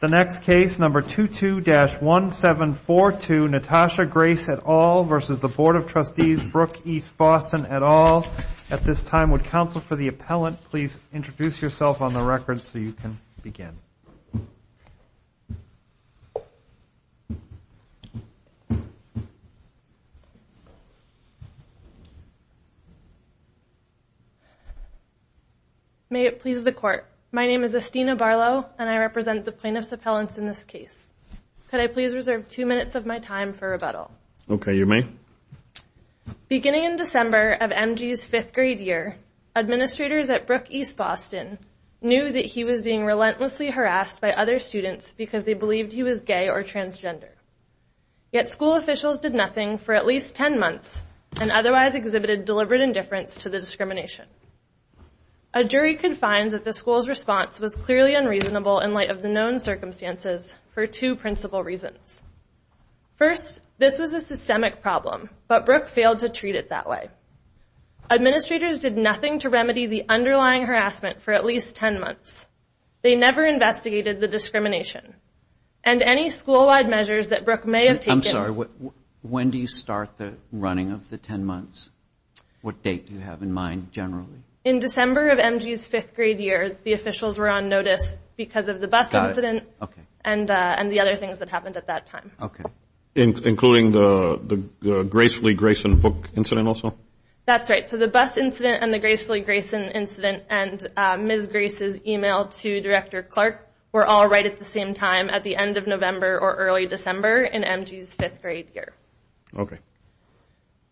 The next case, number 22-1742, Natasha Grace et al. v. Board of Trustees, Brooke East Boston et al. At this time, would counsel for the appellant please introduce yourself on the record so you can begin. May it please the Court, my name is Estina Barlow and I represent the plaintiff's appellants in this case. Could I please reserve two minutes of my time for rebuttal? Okay, you may. Beginning in December of MG's fifth grade year, administrators at Brooke East Boston knew that he was being relentlessly harassed by other students because they believed he was gay or transgender. Yet school officials did nothing for at least 10 months and otherwise exhibited deliberate indifference to the discrimination. A jury could find that the school's response was clearly unreasonable in light of the known circumstances for two principal reasons. First, this was a systemic problem, but Brooke failed to treat it that way. Administrators did nothing to remedy the underlying harassment for at least 10 months. They never investigated the discrimination. And any school-wide measures that Brooke may have taken I'm sorry, when do you start the running of the 10 months? What date do you have in mind generally? In December of MG's fifth grade year, the officials were on notice because of the bus incident and the other things that happened at that time. Including the Gracefully Grayson book incident also? That's right. So the bus incident and the Gracefully Grayson incident and Ms. Grace's email to Director Clark were all right at the same time at the end of November or early December in MG's fifth grade year. Okay.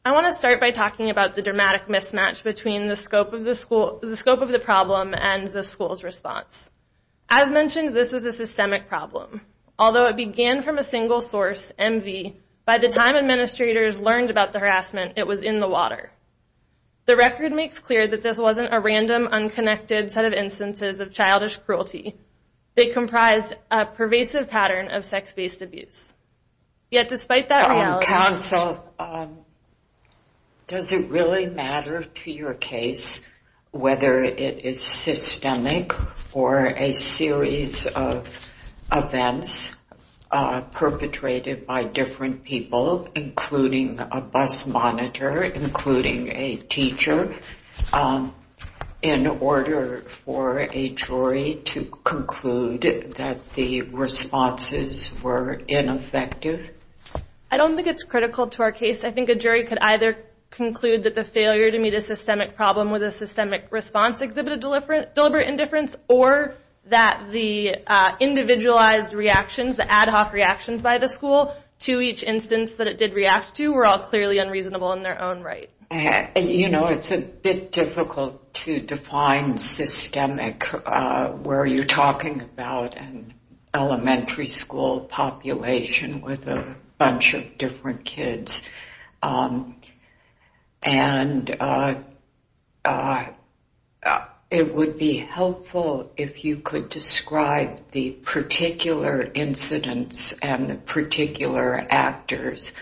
I want to start by talking about the dramatic mismatch between the scope of the problem and the school's response. As mentioned, this was a systemic problem. Although it began from a single source, MV, by the time administrators learned about the harassment, it was in the water. The record makes clear that this wasn't a random, unconnected set of instances of childish cruelty. They comprised a pervasive pattern of sex-based abuse. Yet despite that reality Counsel, does it really matter to your case whether it is systemic or a series of events perpetrated by different people, including a bus monitor, including a teacher, in order for a jury to conclude that the responses were ineffective? I don't think it's critical to our case. I think a jury could either conclude that the failure to meet a systemic problem with a systemic response exhibited deliberate indifference or that the individualized reactions, the ad hoc reactions by the school, to each instance that it did react to were all clearly unreasonable in their own right. You know, it's a bit difficult to define systemic where you're talking about an elementary school population with a bunch of different kids. And it would be helpful if you could describe the particular incidents and the particular actors.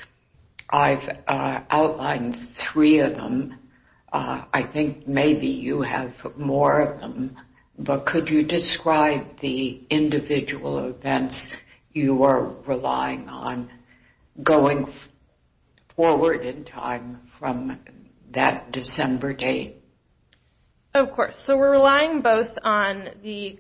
I've outlined three of them. I think maybe you have more of them. But could you describe the individual events you are relying on going forward in time from that December date? Of course. So we're relying both on the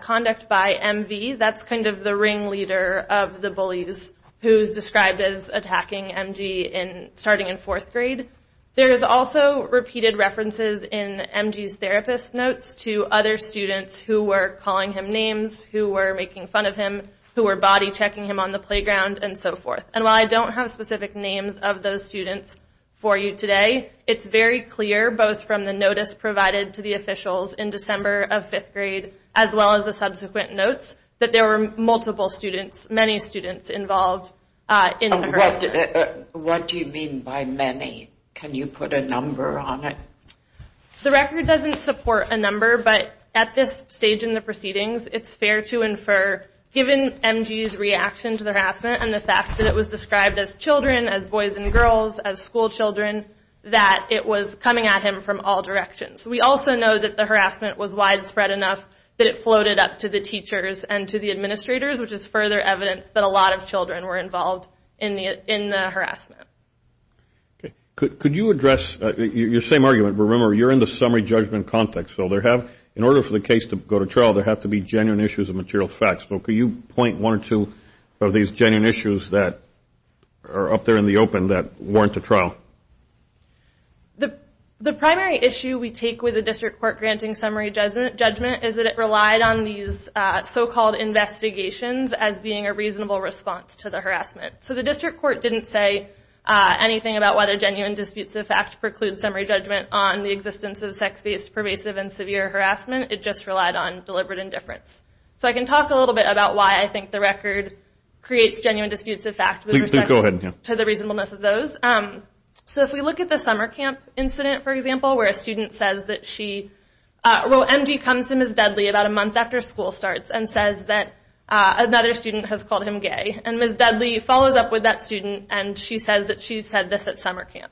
conduct by MV. That's kind of the ringleader of the bullies who's described as attacking MG starting in fourth grade. There is also repeated references in MG's therapist notes to other students who were calling him names, who were making fun of him, who were body checking him on the playground and so forth. And while I don't have specific names of those students for you today, it's very clear both from the notice provided to the officials in December of fifth grade as well as the subsequent notes that there were multiple students, many students involved in the harassment. What do you mean by many? Can you put a number on it? The record doesn't support a number. But at this stage in the proceedings, it's fair to infer given MG's reaction to the harassment and the fact that it was described as children, as boys and girls, as school children, that it was coming at him from all directions. We also know that the harassment was widespread enough that it floated up to the teachers and to the administrators, which is further evidence that a lot of children were involved in the harassment. Okay. Could you address your same argument? Remember, you're in the summary judgment context. So in order for the case to go to trial, there have to be genuine issues of material facts. But could you point one or two of these genuine issues that are up there in the open that warrant a trial? The primary issue we take with the district court granting summary judgment is that it relied on these so-called investigations as being a reasonable response to the harassment. So the district court didn't say anything about whether genuine disputes of fact preclude summary judgment on the existence of sex-based pervasive and severe harassment. It just relied on deliberate indifference. So I can talk a little bit about why I think the record creates genuine disputes of fact with respect to the reasonableness of those. So if we look at the summer camp incident, for example, where a student says that she... Well, MD comes to Ms. Dudley about a month after school starts and says that another student has called him gay. And Ms. Dudley follows up with that student, and she says that she said this at summer camp.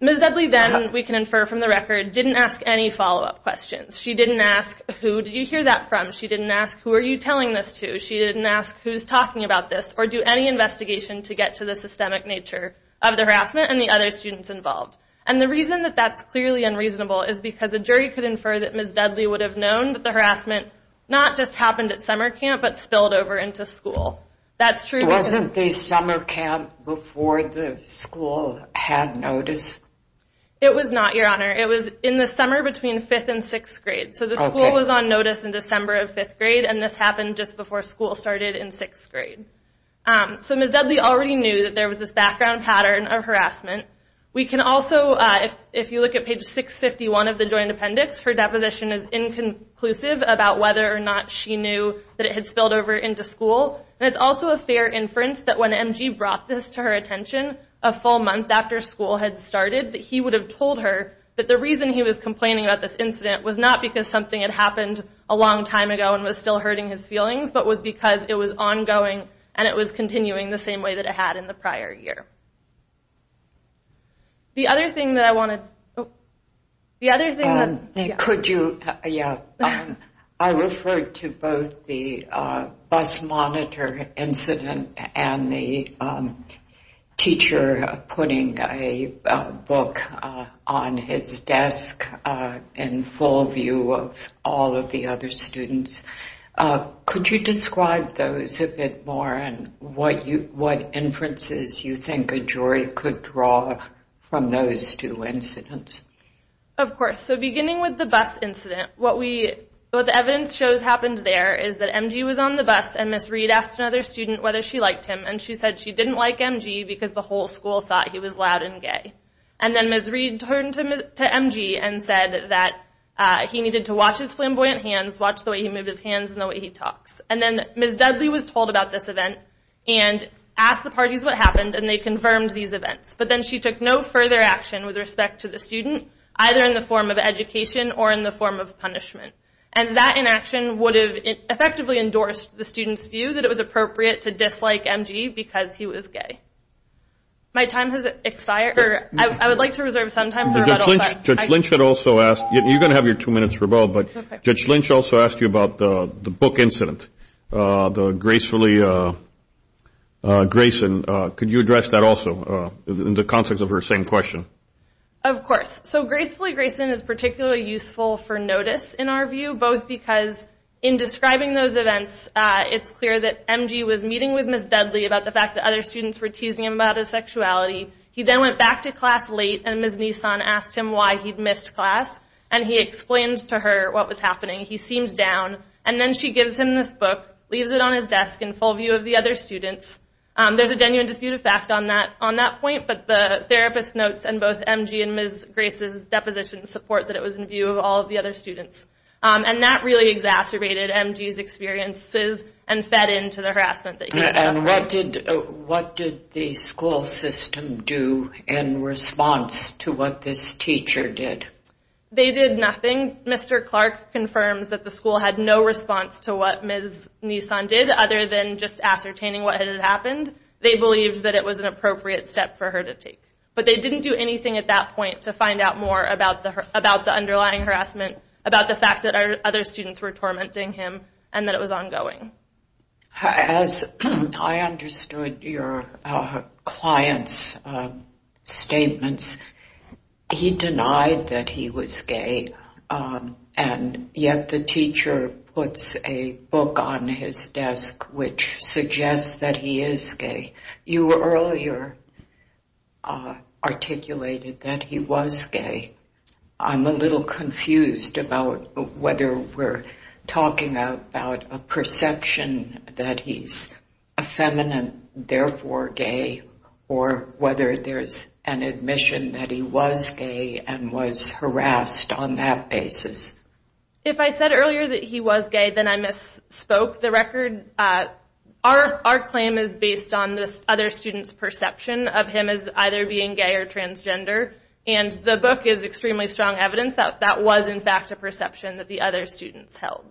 Ms. Dudley then, we can infer from the record, didn't ask any follow-up questions. She didn't ask, Who did you hear that from? She didn't ask, Who are you telling this to? She didn't ask, Who's talking about this? Or do any investigation to get to the systemic nature of the harassment and the other students involved. And the reason that that's clearly unreasonable is because the jury could infer that Ms. Dudley would have known that the harassment not just happened at summer camp but spilled over into school. That's true because... Wasn't the summer camp before the school had notice? It was not, Your Honor. It was in the summer between fifth and sixth grade. So the school was on notice in December of fifth grade, and this happened just before school started in sixth grade. So Ms. Dudley already knew that there was this background pattern of harassment. We can also, if you look at page 651 of the joint appendix, her deposition is inconclusive about whether or not she knew that it had spilled over into school. And it's also a fair inference that when MG brought this to her attention a full month after school had started, that he would have told her that the reason he was complaining about this incident was not because something had happened a long time ago and was still hurting his feelings, but was because it was ongoing and it was continuing the same way that it had in the prior year. The other thing that I want to... Could you... I referred to both the bus monitor incident and the teacher putting a book on his desk in full view of all of the other students. Could you describe those a bit more and what inferences you think a jury could draw from those two incidents? Of course. So beginning with the bus incident, what the evidence shows happened there is that MG was on the bus and Ms. Reed asked another student whether she liked him, and she said she didn't like MG because the whole school thought he was loud and gay. And then Ms. Reed turned to MG and said that he needed to watch his flamboyant hands, watch the way he moved his hands and the way he talks. And then Ms. Dudley was told about this event and asked the parties what happened, and they confirmed these events. But then she took no further action with respect to the student, either in the form of education or in the form of punishment. And that inaction would have effectively endorsed the student's view that it was appropriate to dislike MG because he was gay. My time has expired. I would like to reserve some time for... Judge Lynch had also asked... You're going to have your two minutes for both, but Judge Lynch also asked you about the book incident, the Gracefully Grayson. Could you address that also in the context of her same question? Of course. So Gracefully Grayson is particularly useful for notice in our view, both because in describing those events, it's clear that MG was meeting with Ms. Dudley about the fact that other students were teasing him about his sexuality. He then went back to class late, and Ms. Nissan asked him why he'd missed class, and he explained to her what was happening. He seemed down, and then she gives him this book, leaves it on his desk in full view of the other students. There's a genuine dispute of fact on that point, but the therapist notes in both MG and Ms. Grace's deposition support that it was in view of all of the other students. And that really exacerbated MG's experiences and fed into the harassment that he'd suffered. What did the school system do in response to what this teacher did? They did nothing. Mr. Clark confirms that the school had no response to what Ms. Nissan did other than just ascertaining what had happened. They believed that it was an appropriate step for her to take, but they didn't do anything at that point to find out more about the underlying harassment, about the fact that other students were tormenting him, and that it was ongoing. As I understood your client's statements, he denied that he was gay, and yet the teacher puts a book on his desk which suggests that he is gay. You earlier articulated that he was gay. I'm a little confused about whether we're talking about a perception that he's effeminate, therefore gay, or whether there's an admission that he was gay and was harassed on that basis. If I said earlier that he was gay, then I misspoke the record. Our claim is based on this other student's perception of him as either being gay or transgender, and the book is extremely strong evidence that that was in fact a perception that the other students held.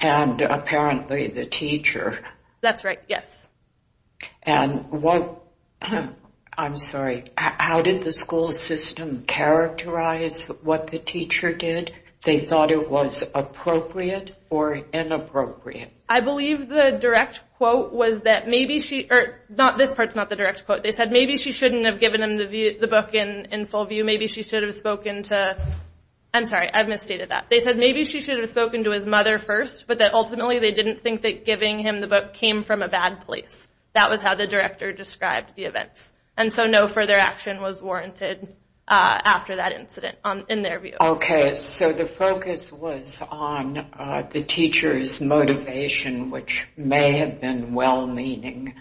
And apparently the teacher. That's right, yes. And what, I'm sorry, how did the school system characterize what the teacher did? They thought it was appropriate or inappropriate? I believe the direct quote was that maybe she, not this part's not the direct quote, they said maybe she shouldn't have given him the book in full view, maybe she should have spoken to, I'm sorry, I've misstated that. They said maybe she should have spoken to his mother first, but that ultimately they didn't think that giving him the book came from a bad place. That was how the director described the events. And so no further action was warranted after that incident in their view. Okay, so the focus was on the teacher's motivation, which may have been well-meaning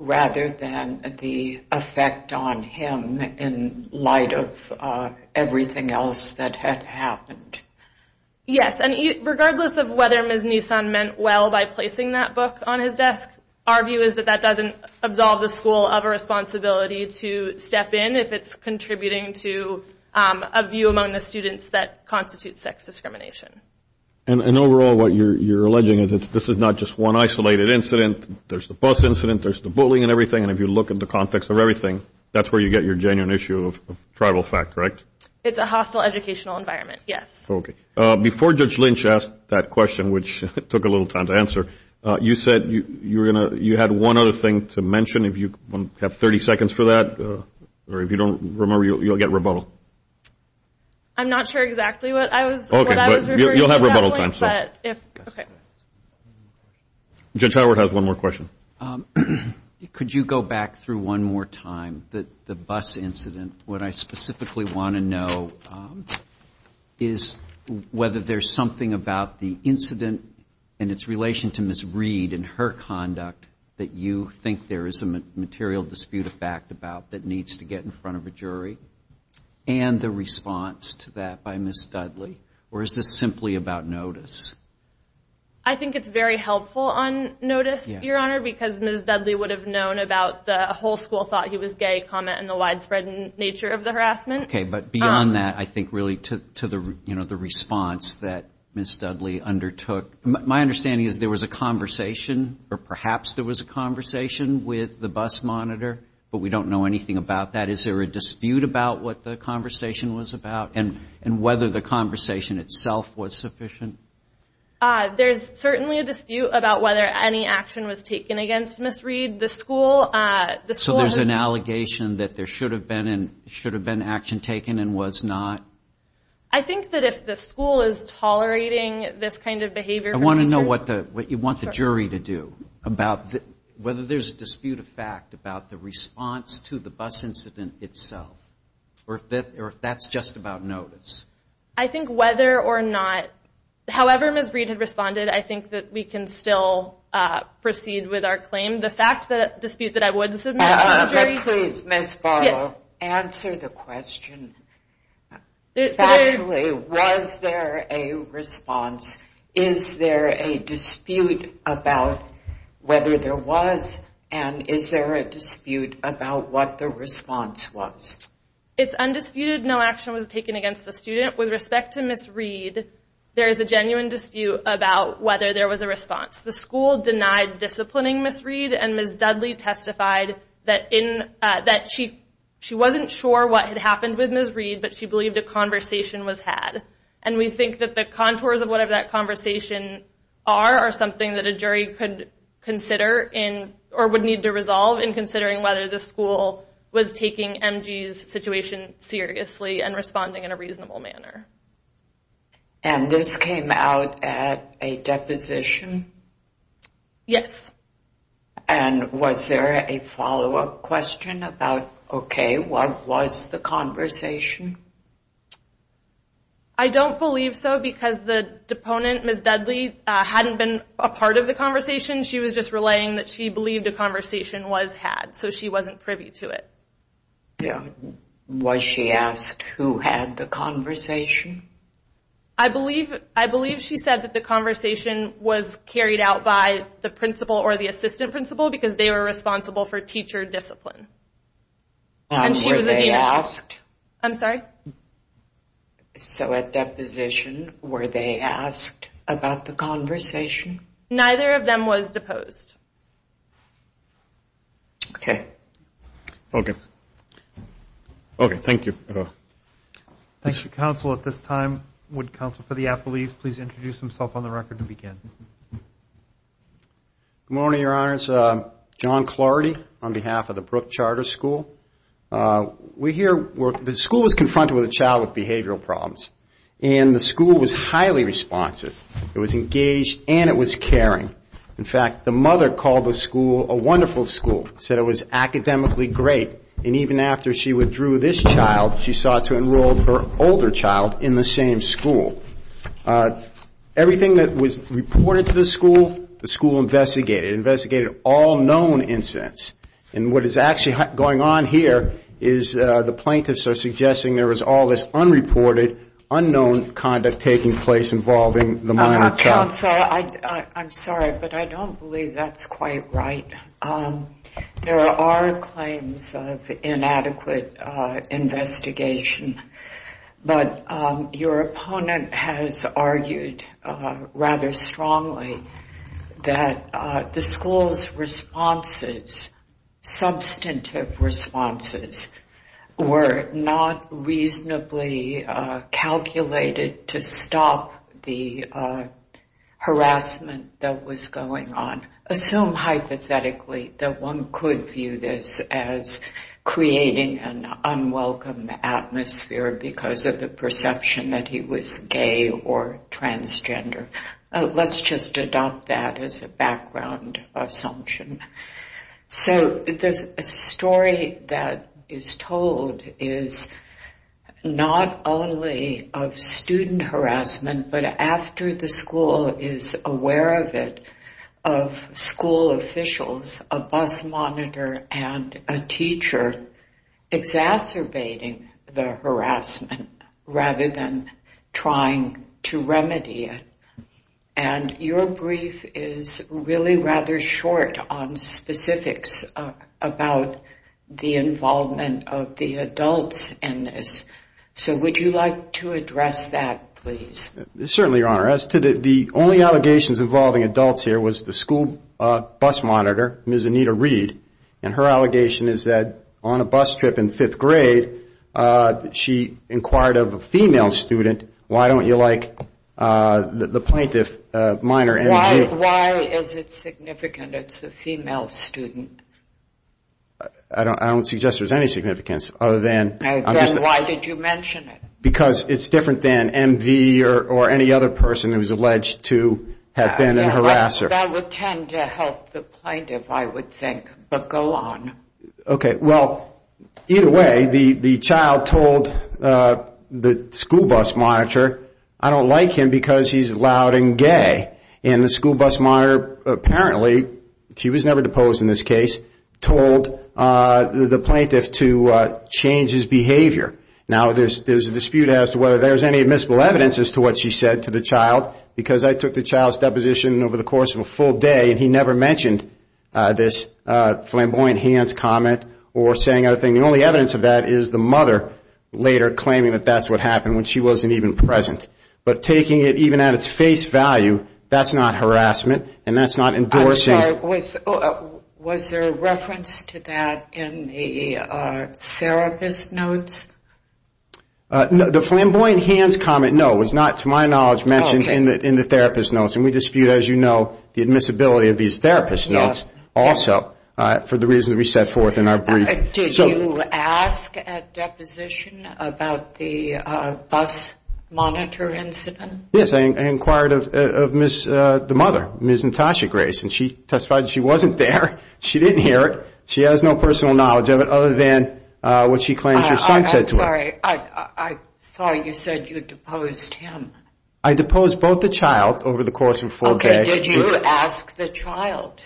rather than the effect on him in light of everything else that had happened. Yes, and regardless of whether Ms. Nisan meant well by placing that book on his desk, our view is that that doesn't absolve the school of a responsibility to step in if it's contributing to a view among the students that constitutes sex discrimination. And overall what you're alleging is that this is not just one isolated incident, there's the bus incident, there's the bullying and everything, and if you look at the context of everything, that's where you get your genuine issue of tribal fact, correct? It's a hostile educational environment, yes. Okay. Before Judge Lynch asked that question, which took a little time to answer, you said you had one other thing to mention. If you have 30 seconds for that, or if you don't remember, you'll get rebuttal. I'm not sure exactly what I was referring to. You'll have rebuttal time. Judge Howard has one more question. Could you go back through one more time the bus incident? What I specifically want to know is whether there's something about the incident and its relation to Ms. Reed and her conduct that you think there is a material dispute of fact about that needs to get in front of a jury and the response to that by Ms. Dudley, or is this simply about notice? I think it's very helpful on notice, Your Honor, because Ms. Dudley would have known about the whole school thought he was gay comment and the widespread nature of the harassment. Okay. But beyond that, I think really to the response that Ms. Dudley undertook, my understanding is there was a conversation, or perhaps there was a conversation, with the bus monitor, but we don't know anything about that. Is there a dispute about what the conversation was about and whether the conversation itself was sufficient? There's certainly a dispute about whether any action was taken against Ms. Reed. So there's an allegation that there should have been action taken and was not? I think that if the school is tolerating this kind of behavior from teachers. I want to know what you want the jury to do about whether there's a dispute of fact about the response to the bus incident itself, or if that's just about notice. I think whether or not, however Ms. Reed had responded, I think that we can still proceed with our claim. The fact that the dispute that I would submit to the jury. Please, Ms. Farrell, answer the question. Factually, was there a response? Is there a dispute about whether there was? And is there a dispute about what the response was? It's undisputed no action was taken against the student. With respect to Ms. Reed, there is a genuine dispute about whether there was a response. The school denied disciplining Ms. Reed, and Ms. Dudley testified that she wasn't sure what had happened with Ms. Reed, but she believed a conversation was had. And we think that the contours of whatever that conversation are, are something that a jury could consider or would need to resolve in considering whether the school was taking MG's situation seriously and responding in a reasonable manner. And this came out at a deposition? Yes. And was there a follow-up question about, okay, what was the conversation? I don't believe so because the deponent, Ms. Dudley, hadn't been a part of the conversation. She was just relaying that she believed a conversation was had, so she wasn't privy to it. Was she asked who had the conversation? I believe she said that the conversation was carried out by the principal or the assistant principal because they were responsible for teacher discipline. And were they asked? I'm sorry? So at deposition, were they asked about the conversation? Neither of them was deposed. Okay. Okay, thank you. Thank you, counsel. At this time, would counsel for the athletes please introduce themselves on the record and begin. Good morning, Your Honors. John Clardy on behalf of the Brooke Charter School. We're here where the school was confronted with a child with behavioral problems, and the school was highly responsive. It was engaged and it was caring. In fact, the mother called the school a wonderful school, said it was academically great, and even after she withdrew this child, she sought to enroll her older child in the same school. Everything that was reported to the school, the school investigated. It investigated all known incidents. And what is actually going on here is the plaintiffs are suggesting there was all this unreported, unknown conduct taking place involving the minor child. Counsel, I'm sorry, but I don't believe that's quite right. There are claims of inadequate investigation, but your opponent has argued rather strongly that the school's responses, substantive responses, were not reasonably calculated to stop the harassment that was going on. Assume hypothetically that one could view this as creating an unwelcome atmosphere because of the perception that he was gay or transgender. Let's just adopt that as a background assumption. So the story that is told is not only of student harassment, but after the school is aware of it, of school officials, a bus monitor, and a teacher exacerbating the harassment rather than trying to remedy it. And your brief is really rather short on specifics about the involvement of the adults in this. So would you like to address that, please? Certainly, Your Honor. As to the only allegations involving adults here was the school bus monitor, Ms. Anita Reed, and her allegation is that on a bus trip in fifth grade, she inquired of a female student, why don't you like the plaintiff minor? Why is it significant it's a female student? Because it's different than MV or any other person who is alleged to have been a harasser. That would tend to help the plaintiff, I would think, but go on. Okay, well, either way, the child told the school bus monitor, I don't like him because he's loud and gay. And the school bus monitor apparently, she was never deposed in this case, told the plaintiff to change his behavior. Now, there's a dispute as to whether there's any admissible evidence as to what she said to the child, because I took the child's deposition over the course of a full day, and he never mentioned this flamboyant hands comment or saying anything. The only evidence of that is the mother later claiming that that's what happened when she wasn't even present. But taking it even at its face value, that's not harassment, and that's not endorsing. I'm sorry, was there a reference to that in the therapist notes? The flamboyant hands comment, no, was not, to my knowledge, mentioned in the therapist notes. And we dispute, as you know, the admissibility of these therapist notes also for the reasons we set forth in our brief. Did you ask at deposition about the bus monitor incident? Yes, I inquired of the mother, Ms. Natasha Grace, and she testified that she wasn't there, she didn't hear it, she has no personal knowledge of it other than what she claims her son said to her. I'm sorry, I thought you said you deposed him. I deposed both the child over the course of a full day. Okay, did you ask the child?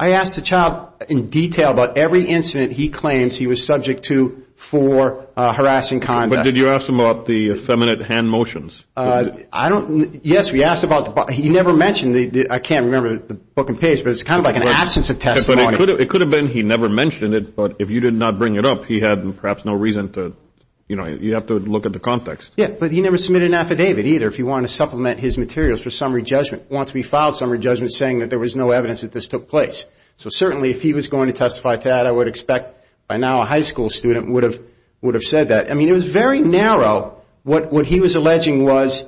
I asked the child in detail about every incident he claims he was subject to for harassing conduct. But did you ask him about the effeminate hand motions? I don't, yes, we asked about, he never mentioned, I can't remember the book and page, but it's kind of like an absence of testimony. It could have been he never mentioned it, but if you did not bring it up, he had perhaps no reason to, you know, you have to look at the context. Yeah, but he never submitted an affidavit either if he wanted to supplement his materials for summary judgment. Once we filed summary judgment saying that there was no evidence that this took place. So certainly if he was going to testify to that, I would expect by now a high school student would have said that. I mean, it was very narrow what he was alleging was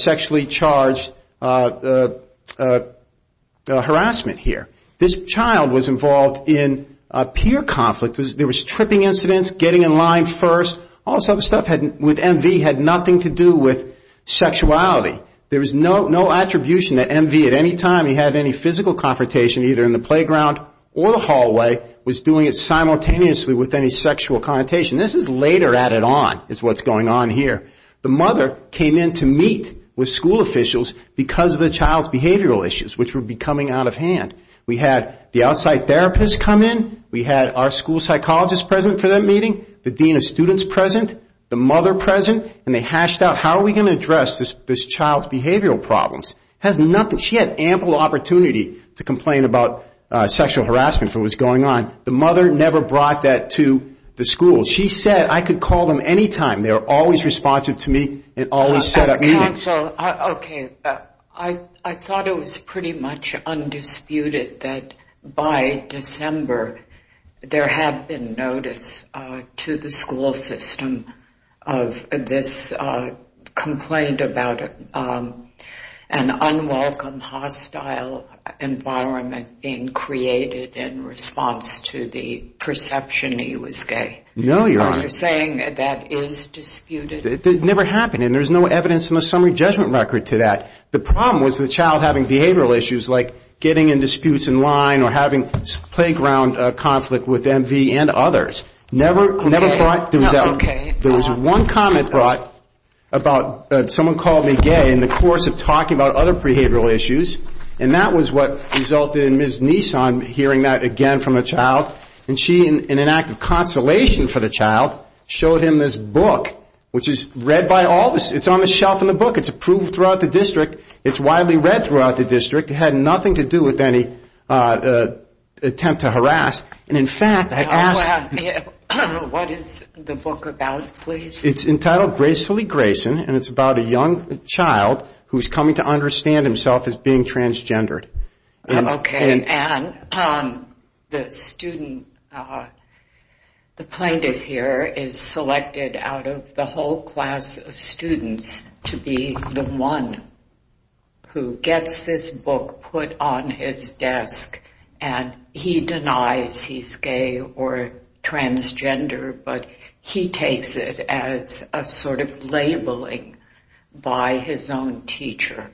sexually charged harassment here. This child was involved in peer conflict. There was tripping incidents, getting in line first, all this other stuff with MV had nothing to do with sexuality. There was no attribution that MV at any time he had any physical confrontation either in the playground or the hallway, was doing it simultaneously with any sexual connotation. This is later added on is what's going on here. The mother came in to meet with school officials because of the child's behavioral issues which would be coming out of hand. We had the outside therapist come in. We had our school psychologist present for that meeting, the dean of students present, the mother present, and they hashed out how are we going to address this child's behavioral problems. She had ample opportunity to complain about sexual harassment for what was going on. The mother never brought that to the school. She said I could call them any time. They are always responsive to me and always set up meetings. Counsel, okay, I thought it was pretty much undisputed that by December there had been notice to the school system of this complaint about an unwelcome hostile environment being created in response to the perception he was gay. No, Your Honor. You're saying that is disputed. It never happened and there's no evidence in the summary judgment record to that. The problem was the child having behavioral issues like getting in disputes in line or having playground conflict with M.V. and others. Never brought the result. Okay. There was one comment brought about someone called me gay in the course of talking about other behavioral issues and that was what resulted in Ms. Neeson hearing that again from a child. And she, in an act of consolation for the child, showed him this book, which is read by all of us. It's on the shelf in the book. It's approved throughout the district. It's widely read throughout the district. It had nothing to do with any attempt to harass. And, in fact, I asked... What is the book about, please? It's entitled Gracefully Grayson and it's about a young child who is coming to understand himself as being transgendered. Okay. And the student, the plaintiff here, is selected out of the whole class of students to be the one who gets this book put on his desk and he denies he's gay or transgender but he takes it as a sort of labeling by his own teacher.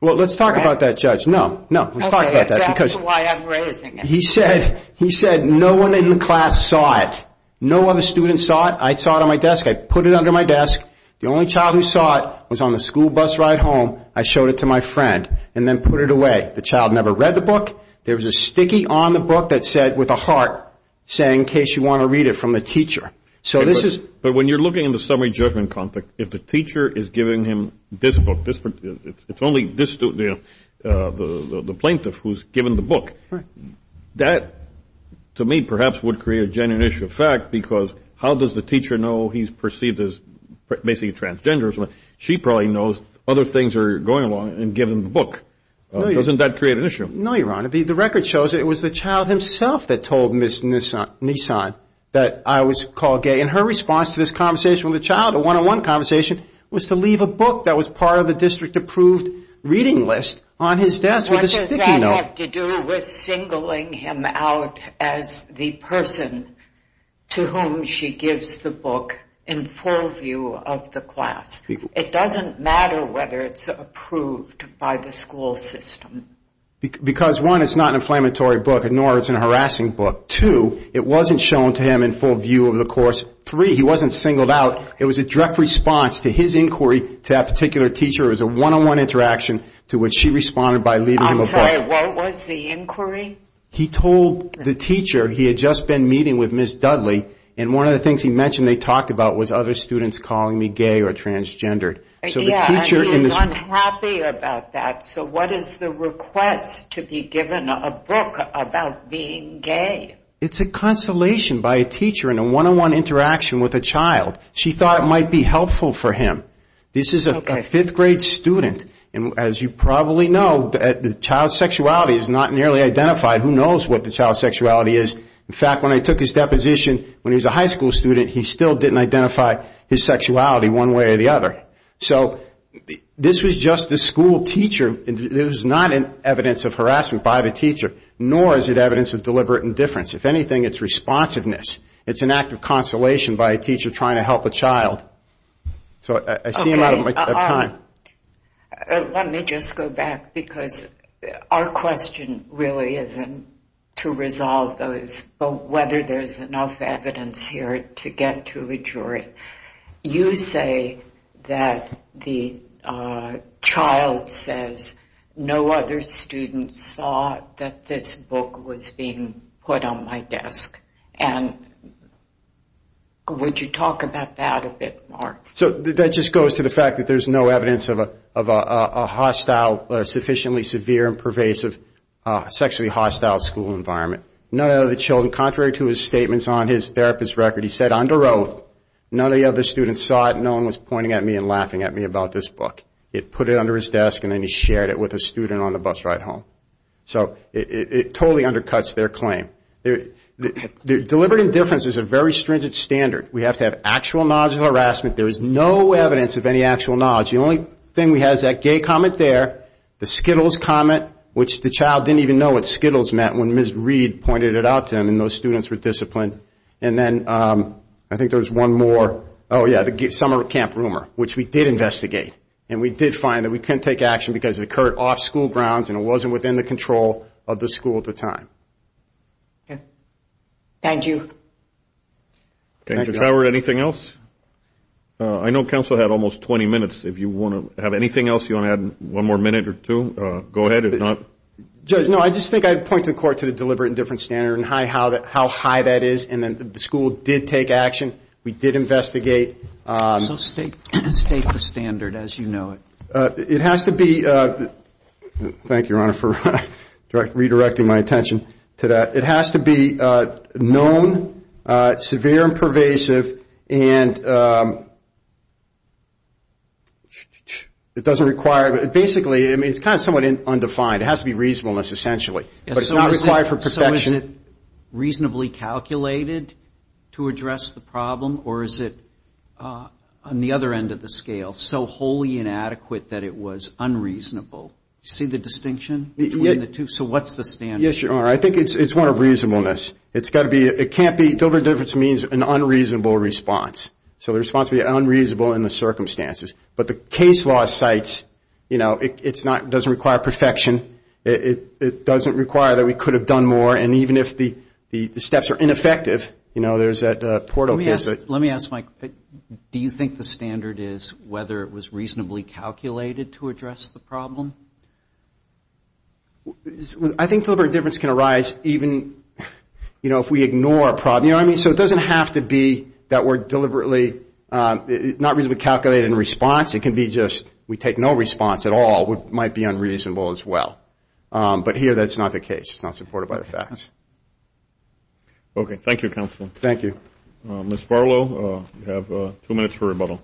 Well, let's talk about that, Judge. No, no. Let's talk about that because... Okay. That's why I'm raising it. He said no one in the class saw it. No other student saw it. I saw it on my desk. I put it under my desk. The only child who saw it was on the school bus ride home. I showed it to my friend and then put it away. The child never read the book. There was a sticky on the book that said, with a heart, saying in case you want to read it from the teacher. So this is... But when you're looking in the summary judgment context, if the teacher is giving him this book, it's only the plaintiff who's given the book. Right. That, to me, perhaps would create a genuine issue of fact because how does the teacher know he's perceived as basically transgender? She probably knows other things are going along and give him the book. Doesn't that create an issue? No, Your Honor. The record shows it was the child himself that told Ms. Nissan that I was called gay. And her response to this conversation with the child, a one-on-one conversation, was to leave a book that was part of the district approved reading list on his desk with a sticky note. What does that have to do with singling him out as the person to whom she gives the book in full view of the class? It doesn't matter whether it's approved by the school system. Because, one, it's not an inflammatory book, nor is it a harassing book. Two, it wasn't shown to him in full view of the course. Three, he wasn't singled out. It was a direct response to his inquiry to that particular teacher. It was a one-on-one interaction to which she responded by leaving him a book. I'm sorry. What was the inquiry? He told the teacher he had just been meeting with Ms. Dudley, and one of the things he mentioned they talked about was other students calling me gay or transgender. Yeah, and he was unhappy about that. So what is the request to be given a book about being gay? It's a consolation by a teacher in a one-on-one interaction with a child. She thought it might be helpful for him. This is a fifth-grade student, and as you probably know, the child's sexuality is not nearly identified. Who knows what the child's sexuality is? In fact, when I took his deposition when he was a high school student, he still didn't identify his sexuality one way or the other. So this was just the school teacher. It was not evidence of harassment by the teacher, nor is it evidence of deliberate indifference. If anything, it's responsiveness. It's an act of consolation by a teacher trying to help a child. So I see you're out of time. Let me just go back because our question really isn't to resolve those, but whether there's enough evidence here to get to a jury. You say that the child says, no other student saw that this book was being put on my desk, and would you talk about that a bit more? So that just goes to the fact that there's no evidence of a hostile, sufficiently severe and pervasive sexually hostile school environment. Contrary to his statements on his therapist record, he said under oath, none of the other students saw it and no one was pointing at me and laughing at me about this book. He put it under his desk and then he shared it with a student on the bus ride home. So it totally undercuts their claim. Deliberate indifference is a very stringent standard. We have to have actual knowledge of harassment. There is no evidence of any actual knowledge. The only thing we have is that gay comment there, the Skittles comment, which the child didn't even know what Skittles meant when Ms. Reed pointed it out to him and those students were disciplined. And then I think there was one more, oh yeah, the summer camp rumor, which we did investigate. And we did find that we couldn't take action because it occurred off school grounds and it wasn't within the control of the school at the time. Thank you. Thank you, Howard. Anything else? I know counsel had almost 20 minutes. If you want to have anything else, you want to add one more minute or two? Go ahead, if not. Judge, no, I just think I'd point to the court to the deliberate indifference standard and how high that is and that the school did take action. We did investigate. So state the standard as you know it. It has to be, thank you, Your Honor, for redirecting my attention to that. It has to be known, severe and pervasive, and it doesn't require, basically, it's kind of somewhat undefined. It has to be reasonableness essentially, but it's not required for protection. So is it reasonably calculated to address the problem or is it on the other end of the scale so wholly inadequate that it was unreasonable? See the distinction between the two? So what's the standard? Yes, Your Honor, I think it's one of reasonableness. It's got to be, it can't be, deliberate indifference means an unreasonable response. So the response would be unreasonable in the circumstances. But the case law cites, you know, it doesn't require perfection. It doesn't require that we could have done more. And even if the steps are ineffective, you know, there's that portal. Let me ask, Mike, do you think the standard is whether it was reasonably calculated to address the problem? I think deliberate indifference can arise even, you know, if we ignore a problem. You know what I mean? So it doesn't have to be that we're deliberately not reasonably calculated in response. It can be just we take no response at all, which might be unreasonable as well. But here that's not the case. It's not supported by the facts. Okay, thank you, counsel. Thank you. Ms. Barlow, you have two minutes for rebuttal.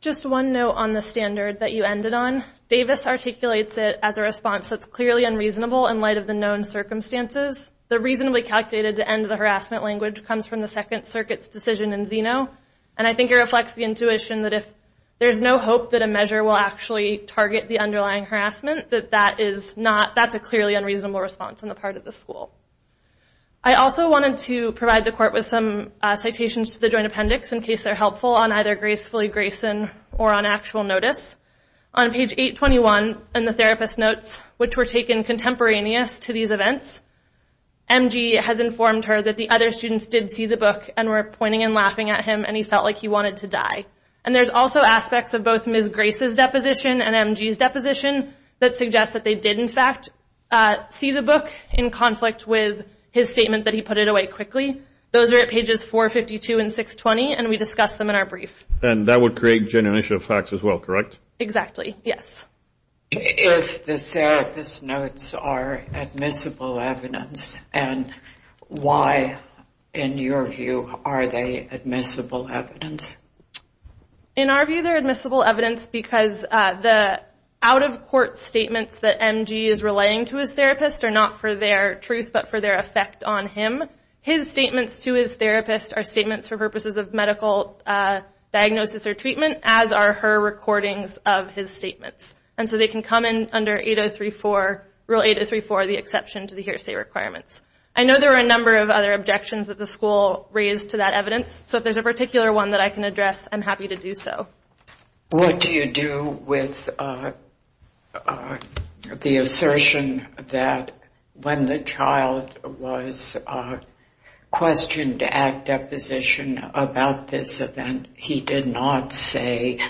Just one note on the standard that you ended on. Davis articulates it as a response that's clearly unreasonable in light of the known circumstances. The reasonably calculated to end the harassment language comes from the Second Circuit's decision in Zeno. And I think it reflects the intuition that if there's no hope that a measure will actually target the underlying harassment, that that is not, that's a clearly unreasonable response on the part of the school. I also wanted to provide the court with some citations to the joint appendix, in case they're helpful on either gracefully Grayson or on actual notice. On page 821 in the therapist notes, which were taken contemporaneous to these events, MG has informed her that the other students did see the book and were pointing and laughing at him, and he felt like he wanted to die. And there's also aspects of both Ms. Grace's deposition and MG's deposition that suggests that they did, in fact, see the book in conflict with his statement that he put it away quickly. Those are at pages 452 and 620, and we discussed them in our brief. And that would create genuine issue of facts as well, correct? Exactly, yes. If the therapist notes are admissible evidence, and why, in your view, are they admissible evidence? In our view, they're admissible evidence because the out-of-court statements that MG is relaying to his therapist are not for their truth but for their effect on him. His statements to his therapist are statements for purposes of medical diagnosis or treatment, as are her recordings of his statements. And so they can come in under Rule 8034, the exception to the hearsay requirements. I know there are a number of other objections that the school raised to that evidence, so if there's a particular one that I can address, I'm happy to do so. What do you do with the assertion that when the child was questioned at deposition about this event, he did not say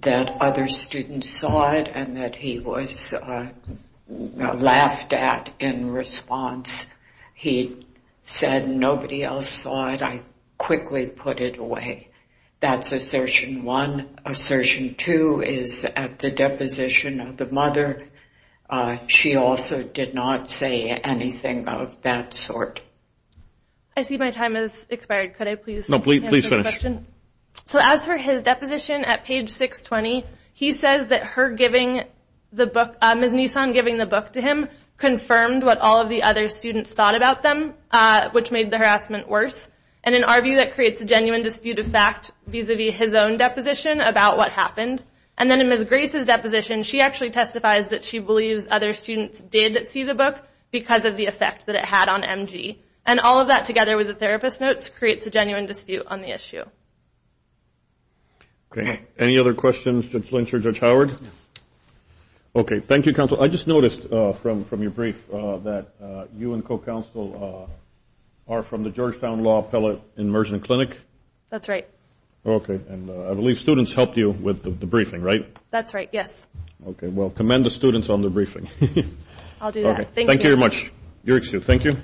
that other students saw it and that he was laughed at in response? He said, nobody else saw it, I quickly put it away. That's assertion one. Assertion two is at the deposition of the mother. She also did not say anything of that sort. I see my time has expired. Could I please answer the question? No, please finish. So as for his deposition at page 620, he says that Ms. Nissan giving the book to him confirmed what all of the other students thought about them, which made the harassment worse. And in our view, that creates a genuine dispute of fact vis-a-vis his own deposition about what happened. And then in Ms. Grace's deposition, she actually testifies that she believes other students did see the book because of the effect that it had on MG. And all of that together with the therapist notes creates a genuine dispute on the issue. Okay. Any other questions? Judge Lynch or Judge Howard? Okay. Thank you, Counsel. I just noticed from your brief that you and co-counsel are from the Georgetown Law Appellate Immersion Clinic. That's right. Okay. And I believe students helped you with the briefing, right? That's right, yes. Okay. Well, commend the students on the briefing. I'll do that. Thank you. Thank you very much. You're excused. Thank you.